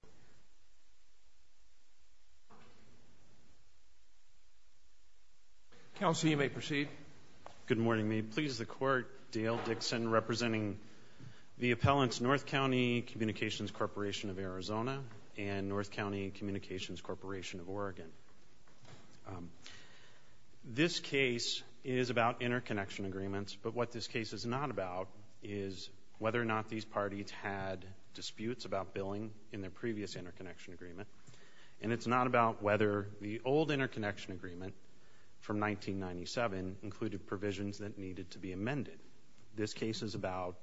of Arizona, and North County Communications Corporation of Oregon. This case is about interconnection agreements, but what this case is not about is whether or not these previous interconnection agreement, and it's not about whether the old interconnection agreement from 1997 included provisions that needed to be amended. This case is about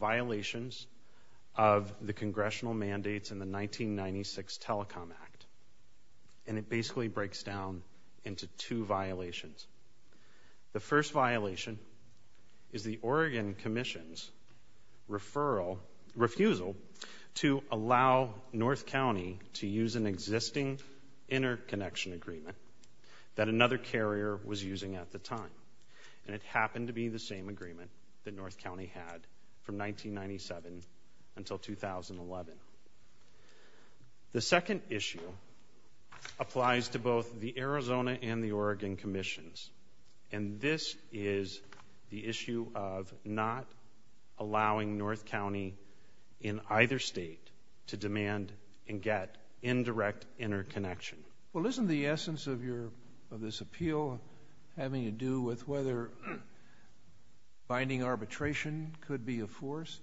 violations of the congressional mandates in the 1996 Telecom Act, and it basically breaks down into two violations. The first violation is the Oregon Commission's referral, refusal to allow North County to use an existing interconnection agreement that another carrier was using at the time, and it happened to be the same agreement that North County had from 1997 until 2011. The second issue applies to both the Arizona and the Oregon Commissions, and this is the issue of not allowing North County in either state to demand and get indirect interconnection. Well, isn't the essence of this appeal having to do with whether binding arbitration could be enforced?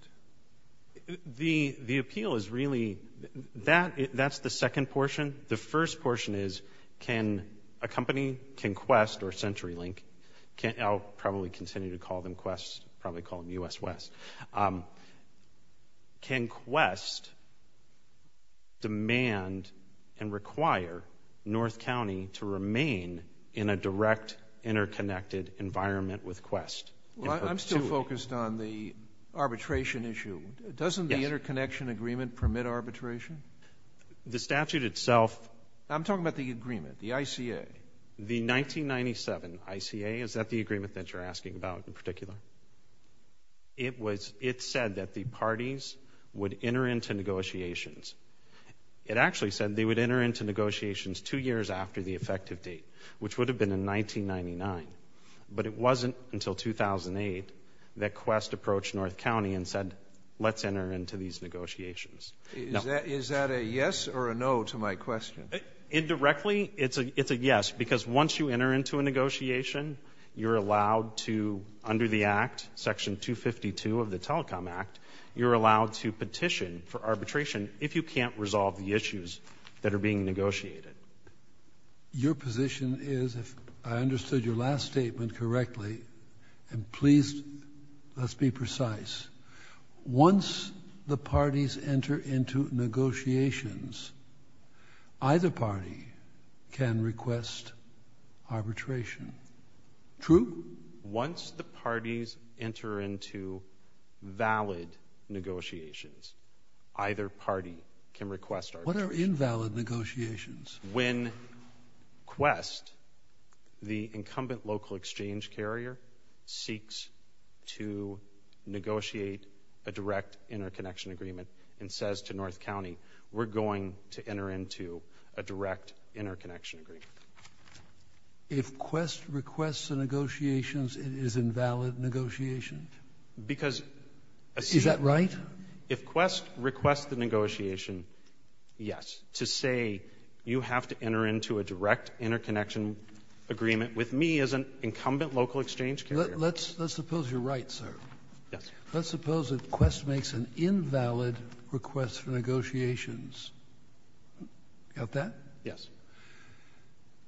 The appeal is really, that's the second portion. The continue to call them QUEST, probably call them U.S. West. Can QUEST demand and require North County to remain in a direct interconnected environment with QUEST? Well, I'm still focused on the arbitration issue. Doesn't the interconnection agreement permit arbitration? The statute itself... I'm talking about the agreement, the ICA. The 1997 ICA, is that the agreement that you're asking about in particular? It was, it said that the parties would enter into negotiations. It actually said they would enter into negotiations two years after the effective date, which would have been in 1999, but it wasn't until 2008 that QUEST approached North County and said, let's enter into these negotiations. Is that a yes or a no to my question? Indirectly, it's a yes, because once you enter into a negotiation, you're allowed to, under the Act, Section 252 of the Telecom Act, you're allowed to petition for arbitration if you can't resolve the issues that are being negotiated. Your position is, if I understood your last statement correctly, and please, let's be precise. Once the parties enter into negotiations, either party can request arbitration. True? Once the parties enter into valid negotiations, either party can request arbitration. What are invalid negotiations? When QUEST, the incumbent local exchange carrier, seeks to negotiate a direct interconnection agreement and says to North County, we're going to enter into a direct interconnection agreement. If QUEST requests the negotiations, it is invalid negotiation? Is that right? If QUEST requests the negotiation, yes. To say, you have to enter into a direct interconnection agreement with me as an incumbent local exchange carrier. Let's suppose you're right, sir. Let's suppose that QUEST makes an invalid request for negotiations. Got that? Yes.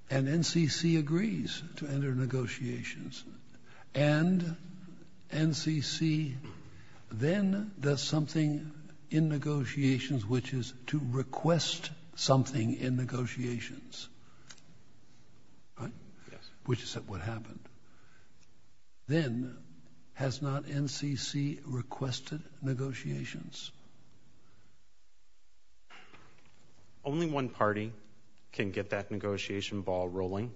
And NCC agrees to enter negotiations. And NCC then does something in negotiations, which is to request something in negotiations, which is what happened. Then has not NCC requested negotiations? Only one party can get that negotiation ball rolling.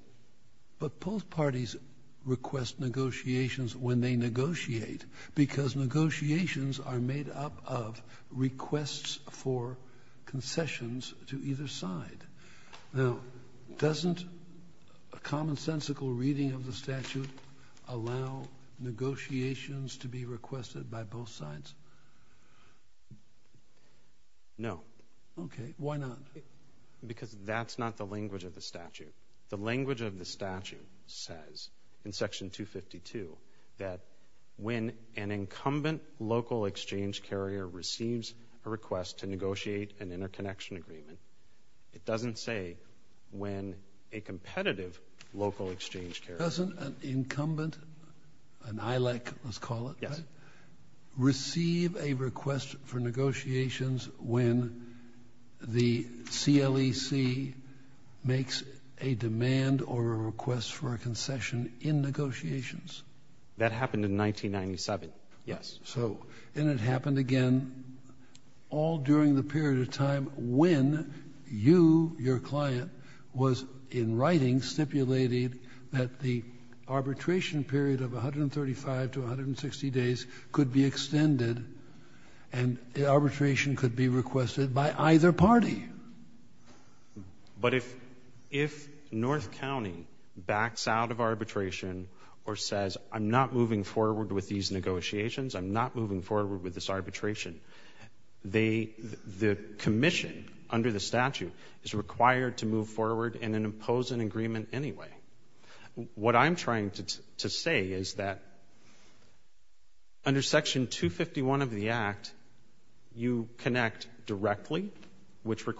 But both parties request negotiations when they negotiate, because negotiations are made up of requests for concessions to either side. Now, doesn't a commonsensical reading of the statute allow negotiations to be requested by both sides? No. Okay, why not? Because that's not the language of the statute. The language of the statute says, in section 252, that when an incumbent local exchange carrier receives a request to negotiate an interconnection agreement, it doesn't say when a competitive local exchange carrier... Doesn't an incumbent, an ILEC, let's call it, receive a request for negotiations when the CLEC makes a demand or a request for a concession in negotiations? That happened in 1997, yes. So, and it happened again all during the period of time when you, your client, was in writing, stipulated that the arbitration period of 135 to 160 days could be extended, and arbitration could be requested by either party. But if North County backs out of arbitration or says, I'm not moving forward with these negotiations, I'm not moving forward with this arbitration, the commission under the statute is required to move forward and impose an agreement anyway. What I'm trying to say is that under section 251 of the Act, you connect directly, which And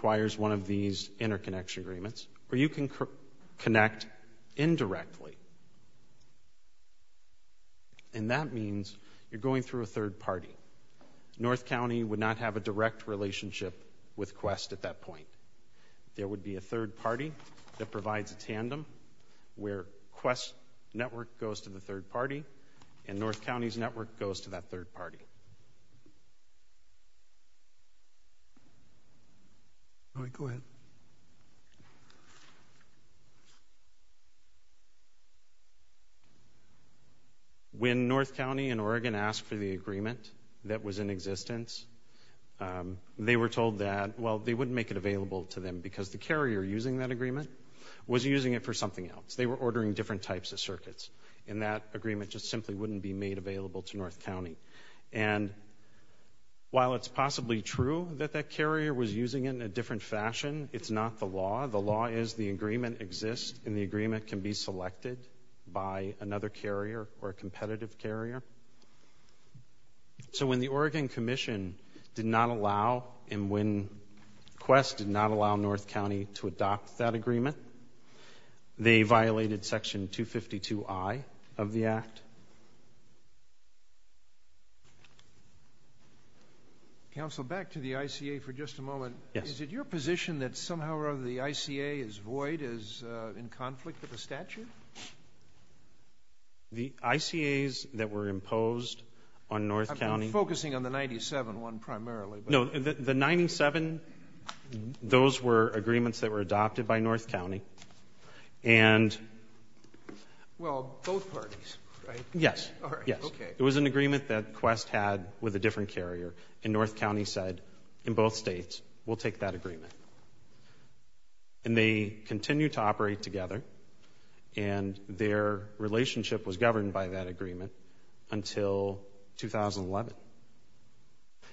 that means you're going through a third party. North County would not have a direct relationship with Quest at that point. There would be a third party that provides a tandem where Quest's network goes to the third party, and North County's network goes to that third When North County and Oregon asked for the agreement that was in existence, they were told that, well, they wouldn't make it available to them because the carrier using that agreement was using it for something else. They were ordering different types of circuits, and that agreement just simply wouldn't be made available to North County. And while it's possibly true that that carrier was using it in a different fashion, it's not the law. The law is the agreement exists, and the agreement can be selected by another carrier or a competitive carrier. So when the Oregon Commission did not allow, and when Quest did not allow North County to adopt that agreement, they violated section 252I of the Act. Counsel, back to the ICA for just a moment. Is it your position that somehow or other the ICA is void, is in conflict with the statute? The ICAs that were imposed on North County I'm focusing on the 97 one primarily. No, the 97, those were agreements that were adopted by North County. Well, both parties, right? Yes. It was an agreement that Quest had with a different carrier, and North County said, in both states, we'll take that agreement. And they continued to operate together, and their relationship was governed by that agreement until 2011.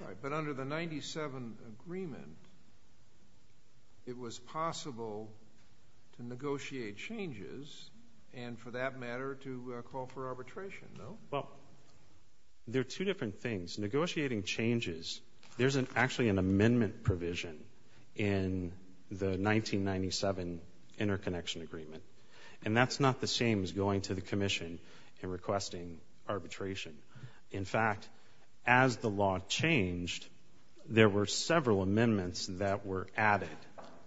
Right. But under the 97 agreement, it was possible to negotiate changes, and for that matter, to call for arbitration, no? Well, there are two different things. Negotiating changes, there's actually an amendment provision in the 1997 interconnection agreement. And that's not the same as going to the commission and requesting arbitration. In fact, as the law changed, there were several amendments that were added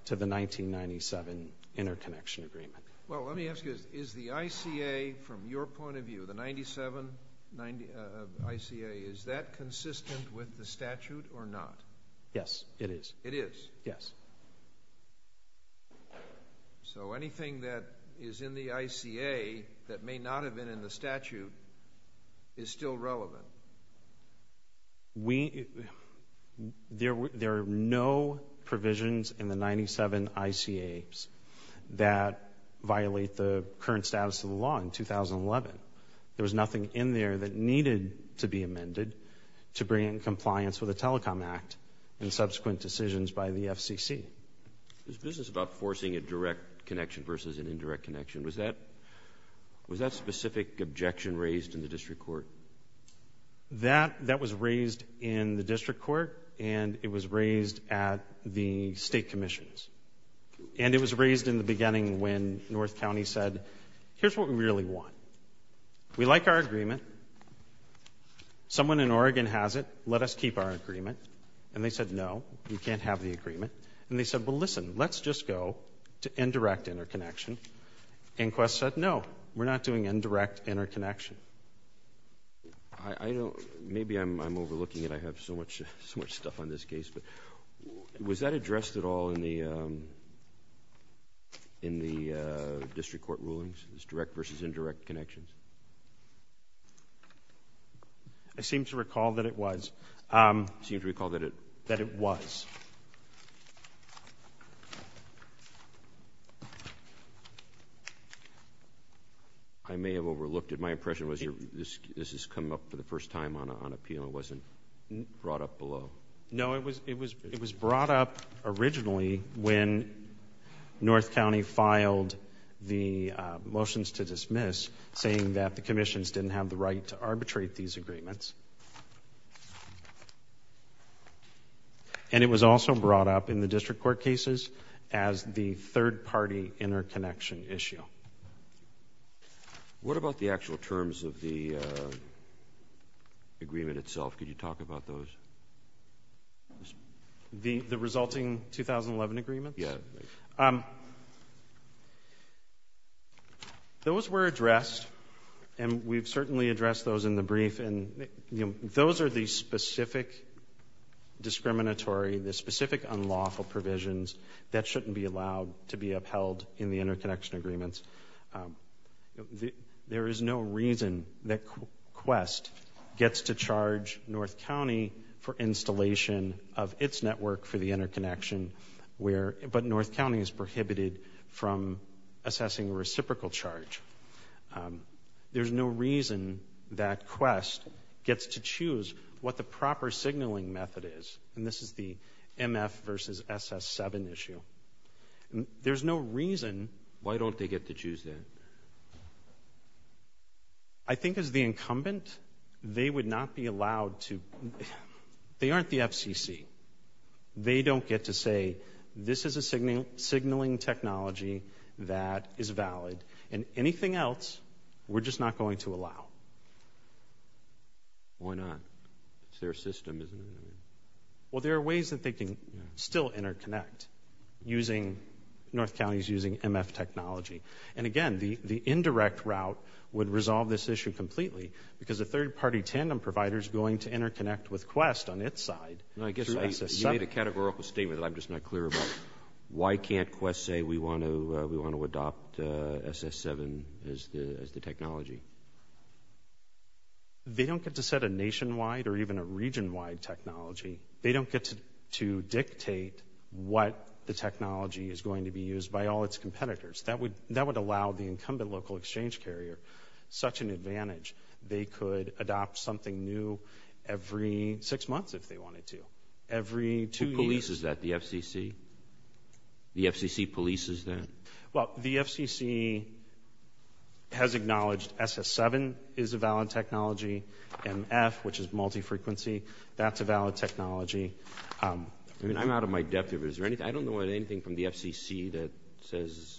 to the 1997 interconnection agreement. Well, let me ask you, is the ICA, from your point of view, the 97 ICA, is that is in the ICA that may not have been in the statute, is still relevant? There are no provisions in the 97 ICAs that violate the current status of the law in 2011. There was nothing in there that needed to be amended to bring in compliance with the Telecom Act and subsequent decisions by the FCC. This business about forcing a direct connection versus an indirect connection, was that specific objection raised in the district court? That was raised in the district court, and it was raised at the state commissions. And it was raised in the beginning when North County said, here's what we really want. We like our agreement. Someone in Oregon has it. Let us keep our agreement. And they said, no, we can't have the agreement. And they said, well, listen, let's just go to indirect interconnection. Inquest said, no, we're not doing indirect interconnection. Maybe I'm overlooking it. I have so much stuff on this case. But was that addressed at all in the district court rulings, this direct versus indirect connection? I seem to recall that it was. I may have overlooked it. My impression was this is coming up for the first time on appeal. It wasn't brought up below. No, it was brought up originally when North County filed the motions to dismiss, saying that the commissions didn't have the right to arbitrate these agreements. And it was also brought up in the district court cases as the third-party interconnection issue. What about the actual terms of the agreement itself? Could you talk about those? The resulting 2011 agreement? Yeah. Those were addressed, and we've certainly addressed those in the brief. And those are the specific discriminatory, the specific unlawful provisions that shouldn't be allowed to be upheld in the interconnection agreements. There is no reason that Quest gets to charge North County for installation of its network for the interconnection, but North County is prohibited from assessing a reciprocal charge. There's no reason that Quest gets to choose what the proper signaling method is. And this is the MF versus SS7 issue. There's no reason. Why don't they get to choose that? I think as the incumbent, they would not be allowed to. They aren't the FCC. They don't get to say, this is a signaling technology that is valid, and anything else, we're just not going to allow. Why not? It's their system, isn't it? Well, there are ways that they can still interconnect using, North County's using MF technology. And again, the indirect route would resolve this issue completely, because a third-party tandem provider is going to interconnect with Quest on its side. I guess you made a categorical statement that I'm just not clear about. Why can't Quest say we want to adopt SS7 as the technology? They don't get to set a nationwide or even a region-wide technology. They don't get to allow the incumbent local exchange carrier such an advantage. They could adopt something new every six months if they wanted to. Every two years. Who polices that, the FCC? The FCC polices that? Well, the FCC has acknowledged SS7 is a valid technology. MF, which is multi-frequency, that's a valid technology. I'm out of my depth here, but I don't know of anything from the FCC that says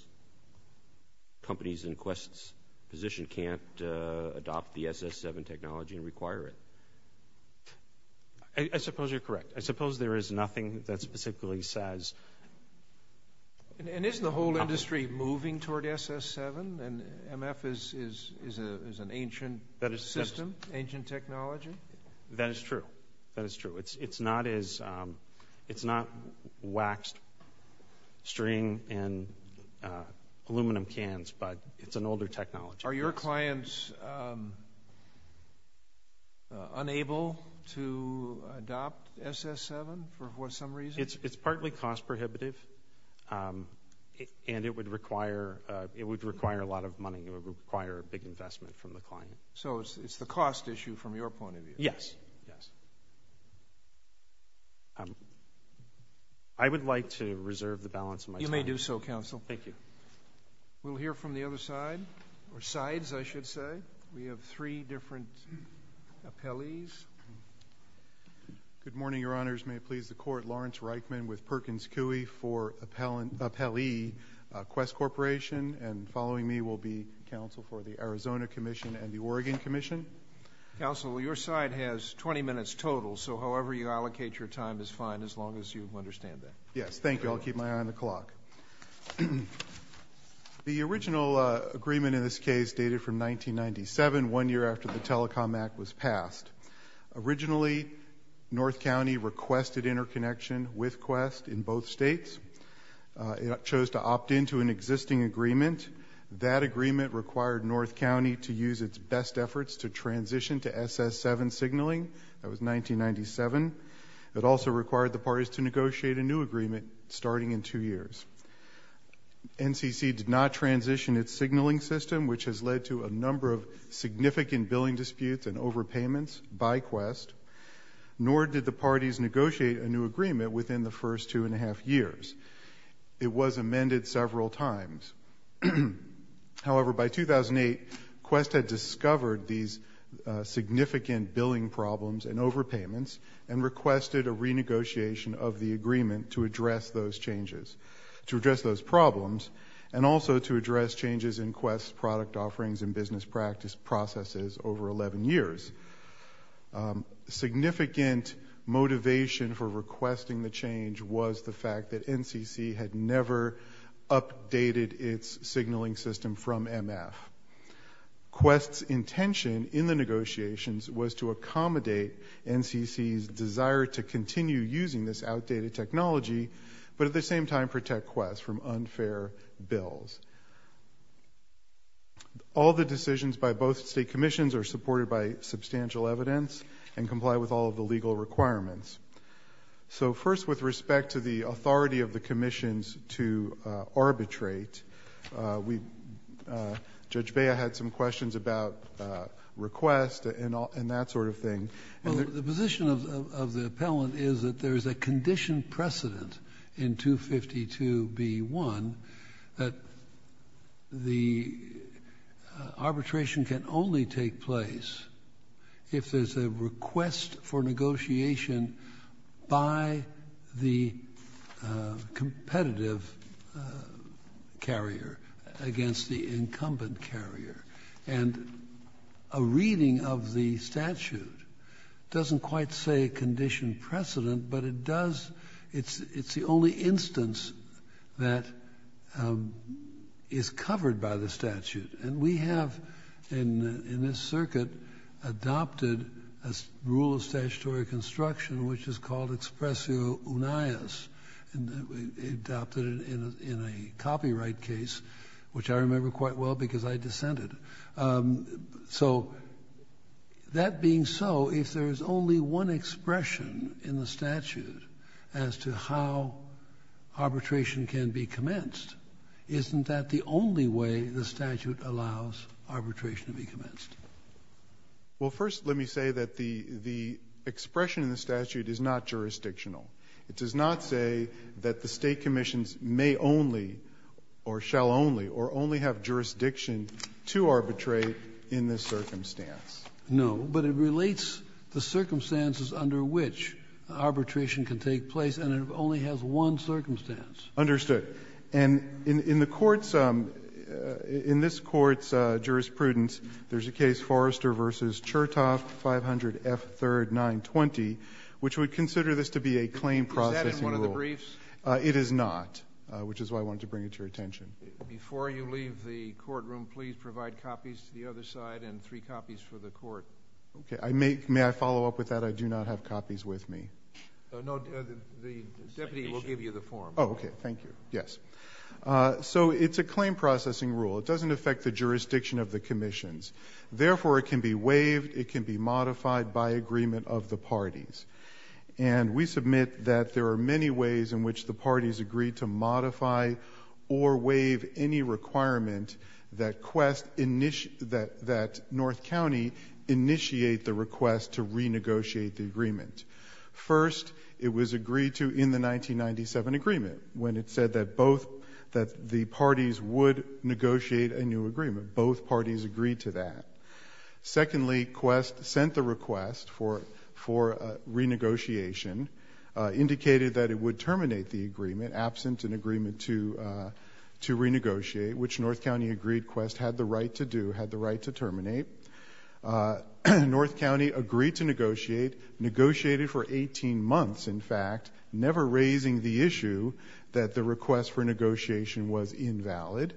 companies in Quest's position can't adopt the SS7 technology and require it. I suppose you're correct. I suppose there is nothing that specifically says... And isn't the whole industry moving toward SS7 and MF is an ancient system, ancient technology? That is true. That is true. It's not waxed string and aluminum cans, but it's an older technology. Are your clients unable to adopt SS7 for some reason? It's partly cost prohibitive, and it would require a lot of money. It would require a big investment from the client. So it's the cost issue from your point of view? Yes. I would like to reserve the balance of my time. You may do so, counsel. Thank you. We'll hear from the other side, or sides, I should say. We have three different appellees. Good morning, Your Honors. May it please the Court. Lawrence Reichman with Perkins Coie for Appellee Quest Corporation, and following me will be counsel for the Arizona Commission and the Oregon Commission. Counsel, your side has 20 minutes total, so however you allocate your time is fine as long as you understand that. Yes. Thank you. I'll keep my eye on the clock. The original agreement in this case dated from 1997, one year after the Telecom Act was passed. Originally, North County requested interconnection with Quest in both states. It chose to opt into an existing agreement. That agreement required North County to use its best efforts to transition to SS7 signaling. That was 1997. It also required the parties to negotiate a new agreement starting in two years. NCC did not transition its signaling system, which has led to a number of significant billing disputes and overpayments by Quest, nor did the parties negotiate a new agreement within the first two and a half years. It was amended several times. However, by 2008, Quest had discovered these significant billing problems and overpayments and requested a renegotiation of the agreement to address those changes, to address those problems, and also to address changes in Quest's product offerings and business practices over 11 years. Significant motivation for requesting the change was the fact that NCC had never updated its signaling system from MF. Quest's intention in the negotiations was to accommodate NCC's desire to continue using this outdated technology, but at the same time protect Quest from unfair bills. All the decisions by both state commissions are supported by substantial evidence and so first with respect to the authority of the commissions to arbitrate, Judge Bea had some questions about Request and that sort of thing. Well, the position of the appellant is that there is a condition precedent in 252B1 that the arbitration can only take place if there's a request for negotiation on behalf of the by the competitive carrier against the incumbent carrier. And a reading of the statute doesn't quite say condition precedent, but it does, it's the only instance that is covered by the statute. And we have in this circuit adopted a rule of statutory construction which is called Expressio Unaeus and adopted it in a copyright case, which I remember quite well because I dissented. So that being so, if there's only one expression in the statute as to how arbitration can be commenced, isn't that the only way the statute allows arbitration to be commenced? Well, first let me say that the expression in the statute is not jurisdictional. It does not say that the state commissions may only or shall only or only have jurisdiction to arbitrate in this circumstance. No, but it relates the circumstances under which arbitration can take place and it only has one circumstance. Understood. And in the court's, in this court's jurisprudence, there's a case Forrester v. Chertoff, 500 F. 3rd, 920, which would consider this to be a claim processing rule. Is that in one of the briefs? It is not, which is why I wanted to bring it to your attention. Before you leave the courtroom, please provide copies to the other side and three copies for the court. Okay, I may, may I follow up with that? I do not have copies with me. No, the deputy will give you the form. Oh, okay. Thank you. Yes. So it's a claim processing rule. It doesn't affect the jurisdiction of the commissions. Therefore, it can be waived. It can be modified by agreement of the parties. And we submit that there are many ways in which the parties agree to modify or waive any requirement that quest init, that, that North County initiate the request to renegotiate the agreement. First, it was agreed to in the 1997 agreement when it said that both, that the parties would negotiate a new agreement. Both parties agreed to that. Secondly, quest sent the request for, for renegotiation, indicated that it would terminate the agreement absent an agreement to, to renegotiate, which North County agreed quest had the right to do, had the right to terminate. North County agreed to negotiate, negotiated for 18 months, in fact, never raising the issue that the request for negotiation was invalid.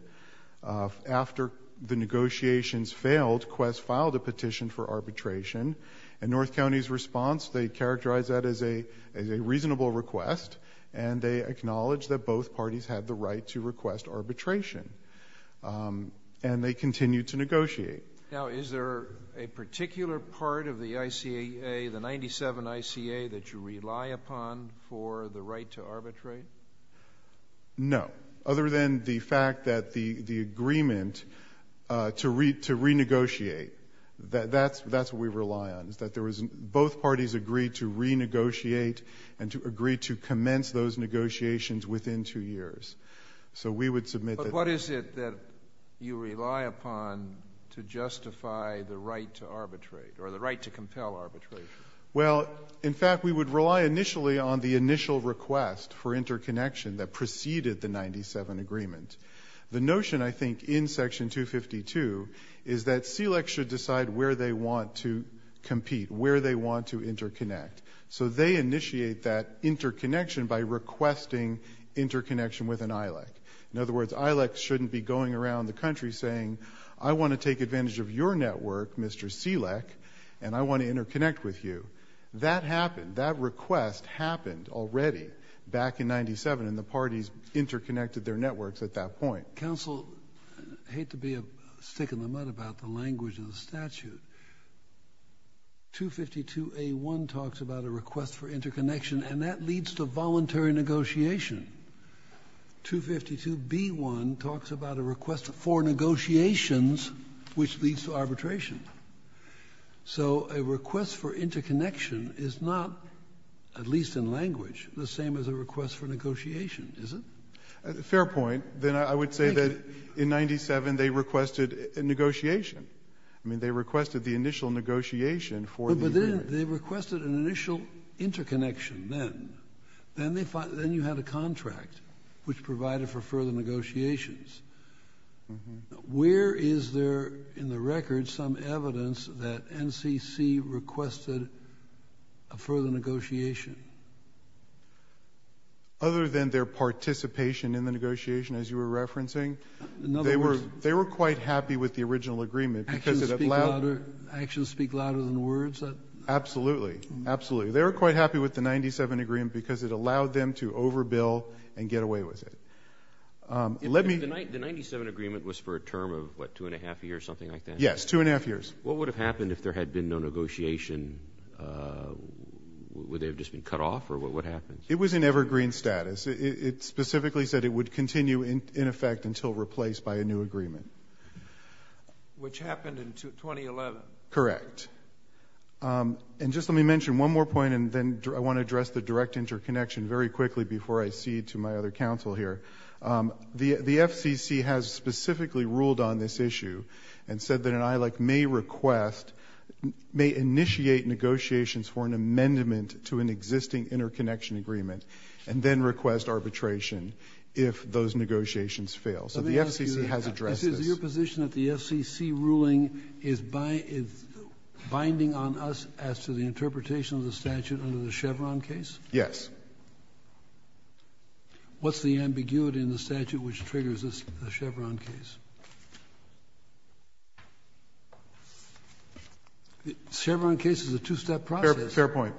After the negotiations failed, quest filed a petition for arbitration. And North County's response, they characterized that as a, as a reasonable request. And they acknowledged that both parties had the right to request arbitration. And they continued to negotiate. Now, is there a particular part of the ICA, the 97 ICA that you rely upon for the right to arbitrate? No. Other than the fact that the, the agreement to re, to renegotiate, that, that's, that's what we rely on, is that there was, both parties agreed to renegotiate and to agree to commence those negotiations within two years. So, we would submit that that's... But what is it that you rely upon to justify the right to arbitrate, or the right to compel arbitration? Well, in fact, we would rely initially on the initial request for interconnection that preceded the 97 agreement. The notion, I think, in Section 252, is that CLEC should decide where they want to compete, where they want to interconnect. So, they initiate that interconnection by requesting interconnection with an ILEC. In other words, ILEC shouldn't be going around the country saying, I want to take advantage of your network, Mr. CLEC, and I want to interconnect with you. That happened, that request happened already back in 97, and the parties interconnected their networks at that point. Counsel, I hate to be a stick in the mud about the language of the statute. 252A1 talks about a request for interconnection, and that leads to voluntary negotiation. 252B1 talks about a request for negotiations, which leads to arbitration. So, a request for interconnection is not, at least in language, the same as a request for negotiation, is it? Fair point. Then I would say that in 97, they requested a negotiation. I mean, they requested the initial negotiation for the agreement. But then, they requested an initial interconnection then. Then you had a contract, which provided for further negotiations. Where is there in the record some evidence that NCC requested a further negotiation? Other than their participation in the negotiation, as you were referencing, they were quite happy with the original agreement, because it allowed... Actions speak louder than words? Absolutely. Absolutely. They were quite happy with the 97 agreement, because it allowed them to overbill and get away with it. The 97 agreement was for a term of, what, two and a half years, something like that? Yes, two and a half years. What would have happened if there had been no negotiation? Would they have just been cut off, or what happens? It was in evergreen status. It specifically said it would continue, in effect, until replaced by a new agreement. Which happened in 2011. Correct. And just let me mention one more point, and then I want to address the direct interconnection very quickly before I cede to my other counsel here. The FCC has specifically ruled on this issue, and said that an ILAC may request, may initiate negotiations for an amendment to an existing interconnection agreement, and then request arbitration if those negotiations fail. So the FCC has addressed this. Is it your position that the FCC ruling is binding on us as to the interpretation of the statute under the Chevron case? Yes. What's the ambiguity in the statute which triggers the Chevron case? The Chevron case is a two-step process. Fair point.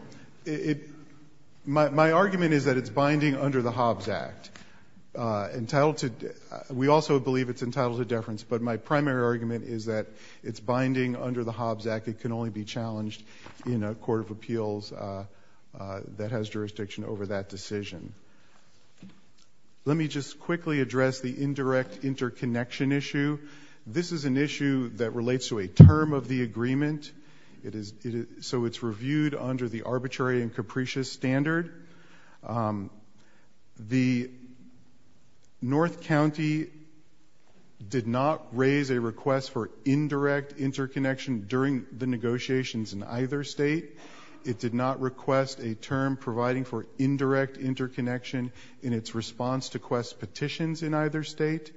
My argument is that it's binding under the Hobbs Act. We also believe it's entitled to deference, but my primary argument is that it's binding under the Hobbs Act. It can only be challenged in a court of appeals that has jurisdiction over that decision. Let me just quickly address the indirect interconnection issue. This is an issue that relates to a treaty agreement, so it's reviewed under the arbitrary and capricious standard. The North County did not raise a request for indirect interconnection during the negotiations in either state. It did not request a term providing for indirect interconnection in its response to quest petitions in either state.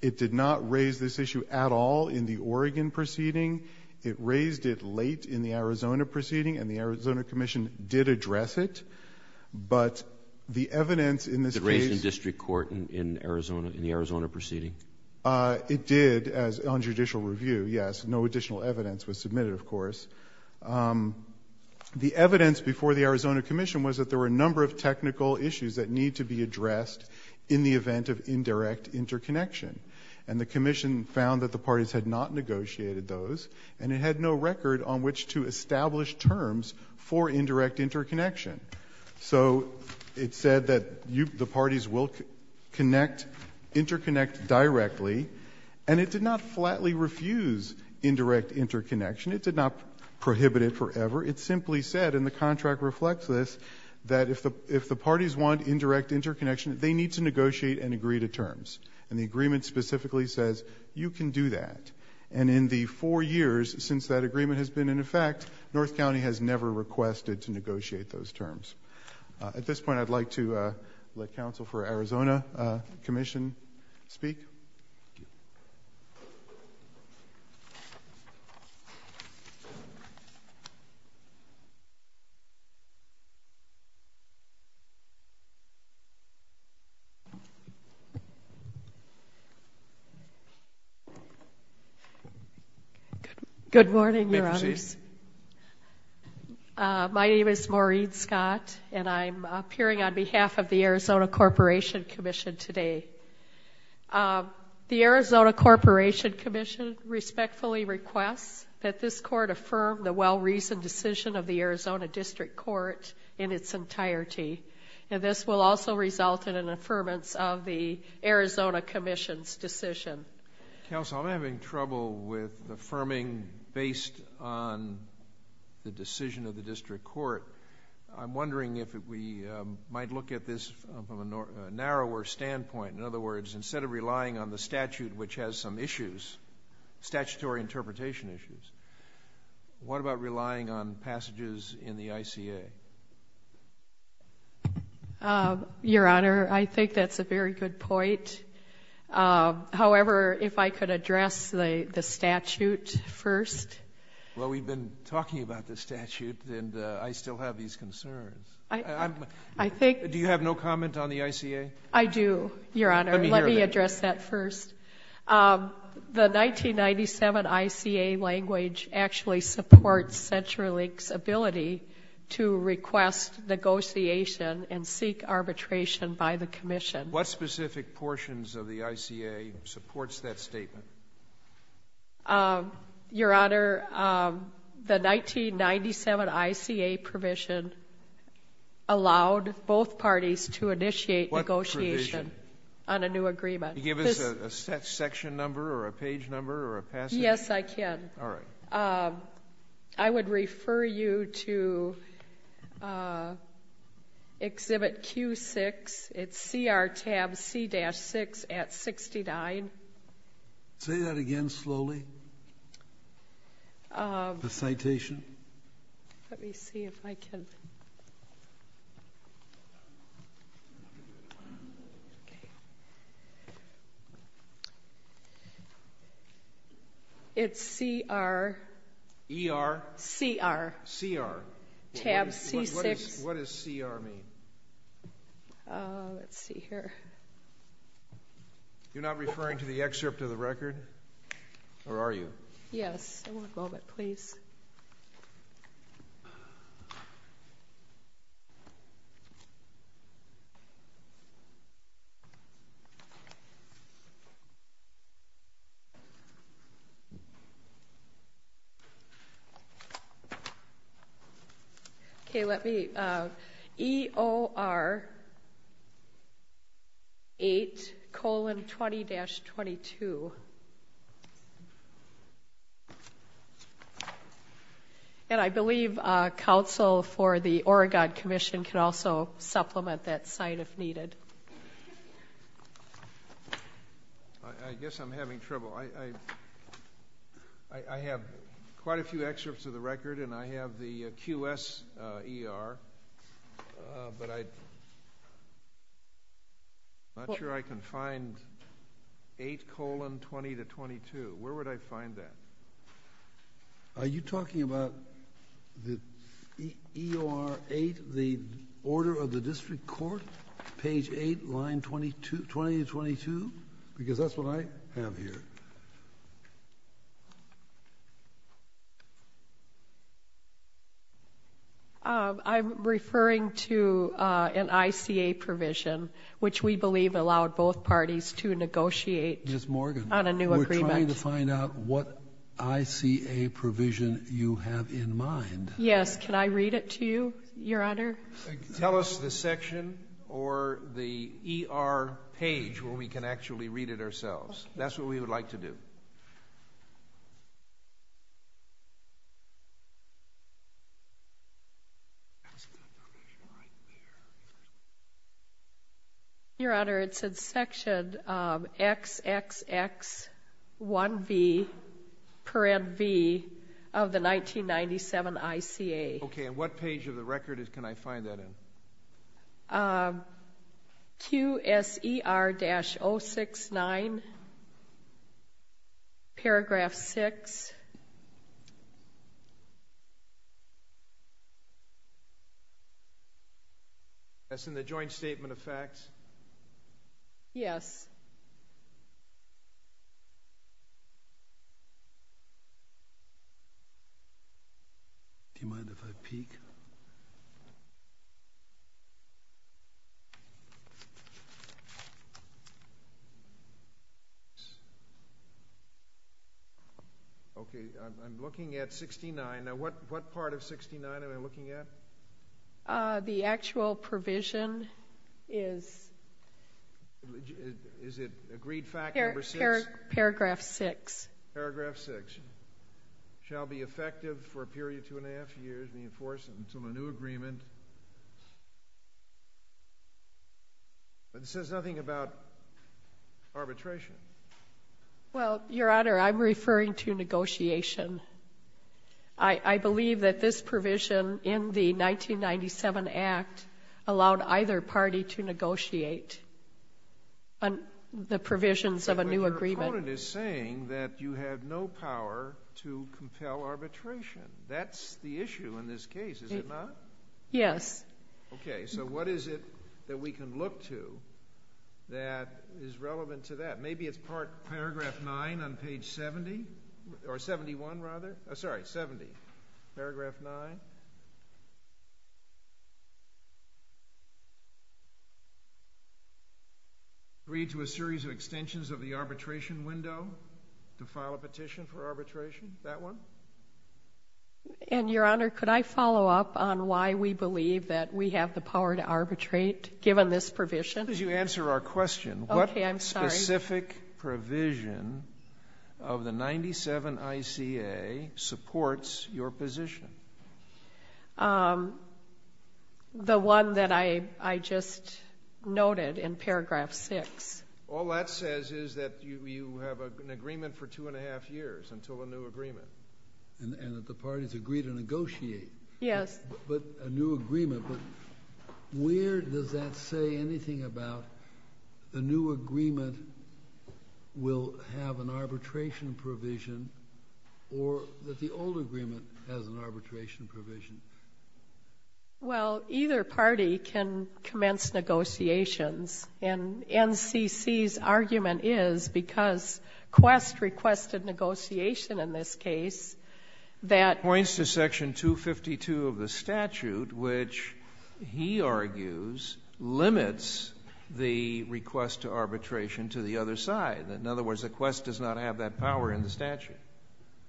It did not raise this issue at all in the Oregon proceeding. It raised it late in the Arizona proceeding, and the Arizona Commission did address it, but the evidence in this case— It raised in district court in the Arizona proceeding? It did on judicial review, yes. No additional evidence was submitted, of course. The evidence before the Arizona Commission was that there were a number of technical issues that need to be addressed in the event of indirect interconnection, and the Commission found that the parties had not negotiated those, and it had no record on which to establish terms for indirect interconnection. So it said that the parties will interconnect directly, and it did not flatly refuse indirect interconnection. It did not prohibit it forever. It simply said, and the contract reflects this, that if the parties want indirect interconnection, they need to negotiate and agree to terms, and the agreement specifically says you can do that, and in the four years since that agreement has been in effect, North County has never requested to negotiate those terms. At this point, I'd like to let counsel for Arizona Commission speak. Good morning, Your Honors. My name is Maureen Scott, and I'm appearing on behalf of the Arizona Corporation Commission today. The Arizona Corporation Commission respectfully requests that this Court affirm the well-reasoned decision of the Arizona District Court in its entirety. This will also result in an affirmance of the Arizona Commission's decision. Counsel, I'm having trouble with affirming based on the decision of the District Court. I'm wondering if we might look at this from a narrower standpoint. In other words, instead of relying on the statute, which has some issues, statutory interpretation issues, what about relying on passages in the ICA? Your Honor, I think that's a very good point. However, if I could address the statute first. Well, we've been talking about the statute, and I still have these concerns. Do you have no comment on the ICA? I do, Your Honor. Let me hear it. The 1997 ICA language actually supports CenturyLink's ability to request negotiation and seek arbitration by the Commission. What specific portions of the ICA supports that statement? Your Honor, the 1997 ICA provision allowed both parties to initiate negotiation on a new agreement. Can you give us a section number or a page number or a passage? Yes, I can. All right. I would refer you to Exhibit Q6. It's CR Tab C-6 at 69. Say that again slowly, the citation. Let me see if I can. It's CR. ER? CR. CR. Tab C-6. What does CR mean? Let's see here. You're not referring to the excerpt of the record, or are you? Yes. One moment, please. Okay. EOR 8 colon 20-22. And I believe counsel for the Oregon Commission can also supplement that site if needed. I guess I'm having trouble. I have quite a few excerpts of the record and I have the QS ER, but I'm not sure I can find 8 colon 20-22. Where would I find that? Are you talking about the EOR 8, the order of the district court, page 8, line 20-22? Because that's what I have here. I'm referring to an ICA provision, which we believe allowed both parties to negotiate Ms. Morgan, we're trying to find out what ICA provision you have in mind. Yes. Can I read it to you, Your Honor? Tell us the section or the ER page where we can actually read it ourselves. That's what we would like to do. Your Honor, it's in section XXX1B, parent B, of the 1997 ICA. Okay, and what page of the record can I find that in? QS ER-069, paragraph 6. That's in the joint statement of facts? Yes. Do you mind if I peek? Okay, I'm looking at 69. Now, what part of 69 am I looking at? The actual provision is... Is it agreed fact number 6? Paragraph 6. Paragraph 6. Shall be effective for a period of two and a half years, reinforced until a new agreement. But it says nothing about arbitration. Well, Your Honor, I'm referring to negotiation. I believe that this provision in the 1997 Act allowed either party to negotiate the provisions of a new agreement. But your opponent is saying that you have no power to compel arbitration. That's the issue in this case, is it not? Yes. Okay, so what is it that we can look to that is relevant to that? Maybe it's paragraph 9 on page 70. Or 71, rather. Sorry, 70. Paragraph 9. Agree to a series of extensions of the arbitration window to file a petition for arbitration. That one? And, Your Honor, could I follow up on why we believe that we have the power to arbitrate, given this provision? As you answer our question... Okay, I'm sorry. This specific provision of the 97 ICA supports your position. The one that I just noted in paragraph 6. All that says is that you have an agreement for two and a half years until a new agreement. And that the parties agree to negotiate. Yes. A new agreement. But where does that say anything about the new agreement will have an arbitration provision, or that the old agreement has an arbitration provision? Well, either party can commence negotiations. And NCC's argument is, because Quest requested negotiation in this case, that... the statute, which he argues, limits the request to arbitration to the other side. In other words, Quest does not have that power in the statute.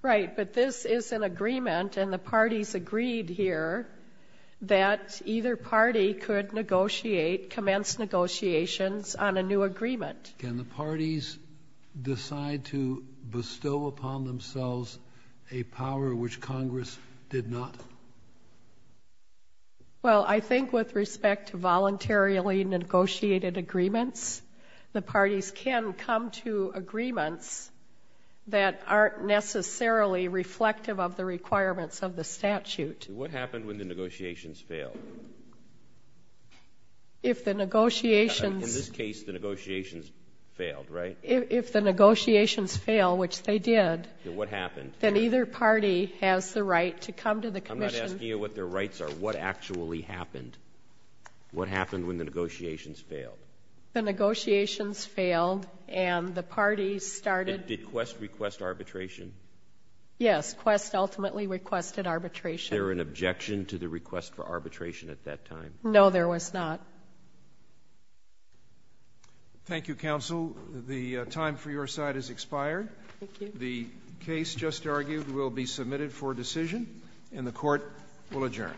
Right. But this is an agreement, and the parties agreed here that either party could negotiate, commence negotiations on a new agreement. Can the parties decide to bestow upon themselves a power which Congress did not? Well, I think with respect to voluntarily negotiated agreements, the parties can come to agreements that aren't necessarily reflective of the requirements of the statute. What happens when the negotiations fail? If the negotiations... Failed, right? If the negotiations fail, which they did... Then what happened? Then either party has the right to come to the commission... I'm not asking you what their rights are. What actually happened? What happened when the negotiations failed? The negotiations failed, and the parties started... Did Quest request arbitration? Yes, Quest ultimately requested arbitration. Was there an objection to the request for arbitration at that time? No, there was not. Thank you, counsel. The time for your side has expired. Thank you. The case just argued will be submitted for decision, and the court will adjourn.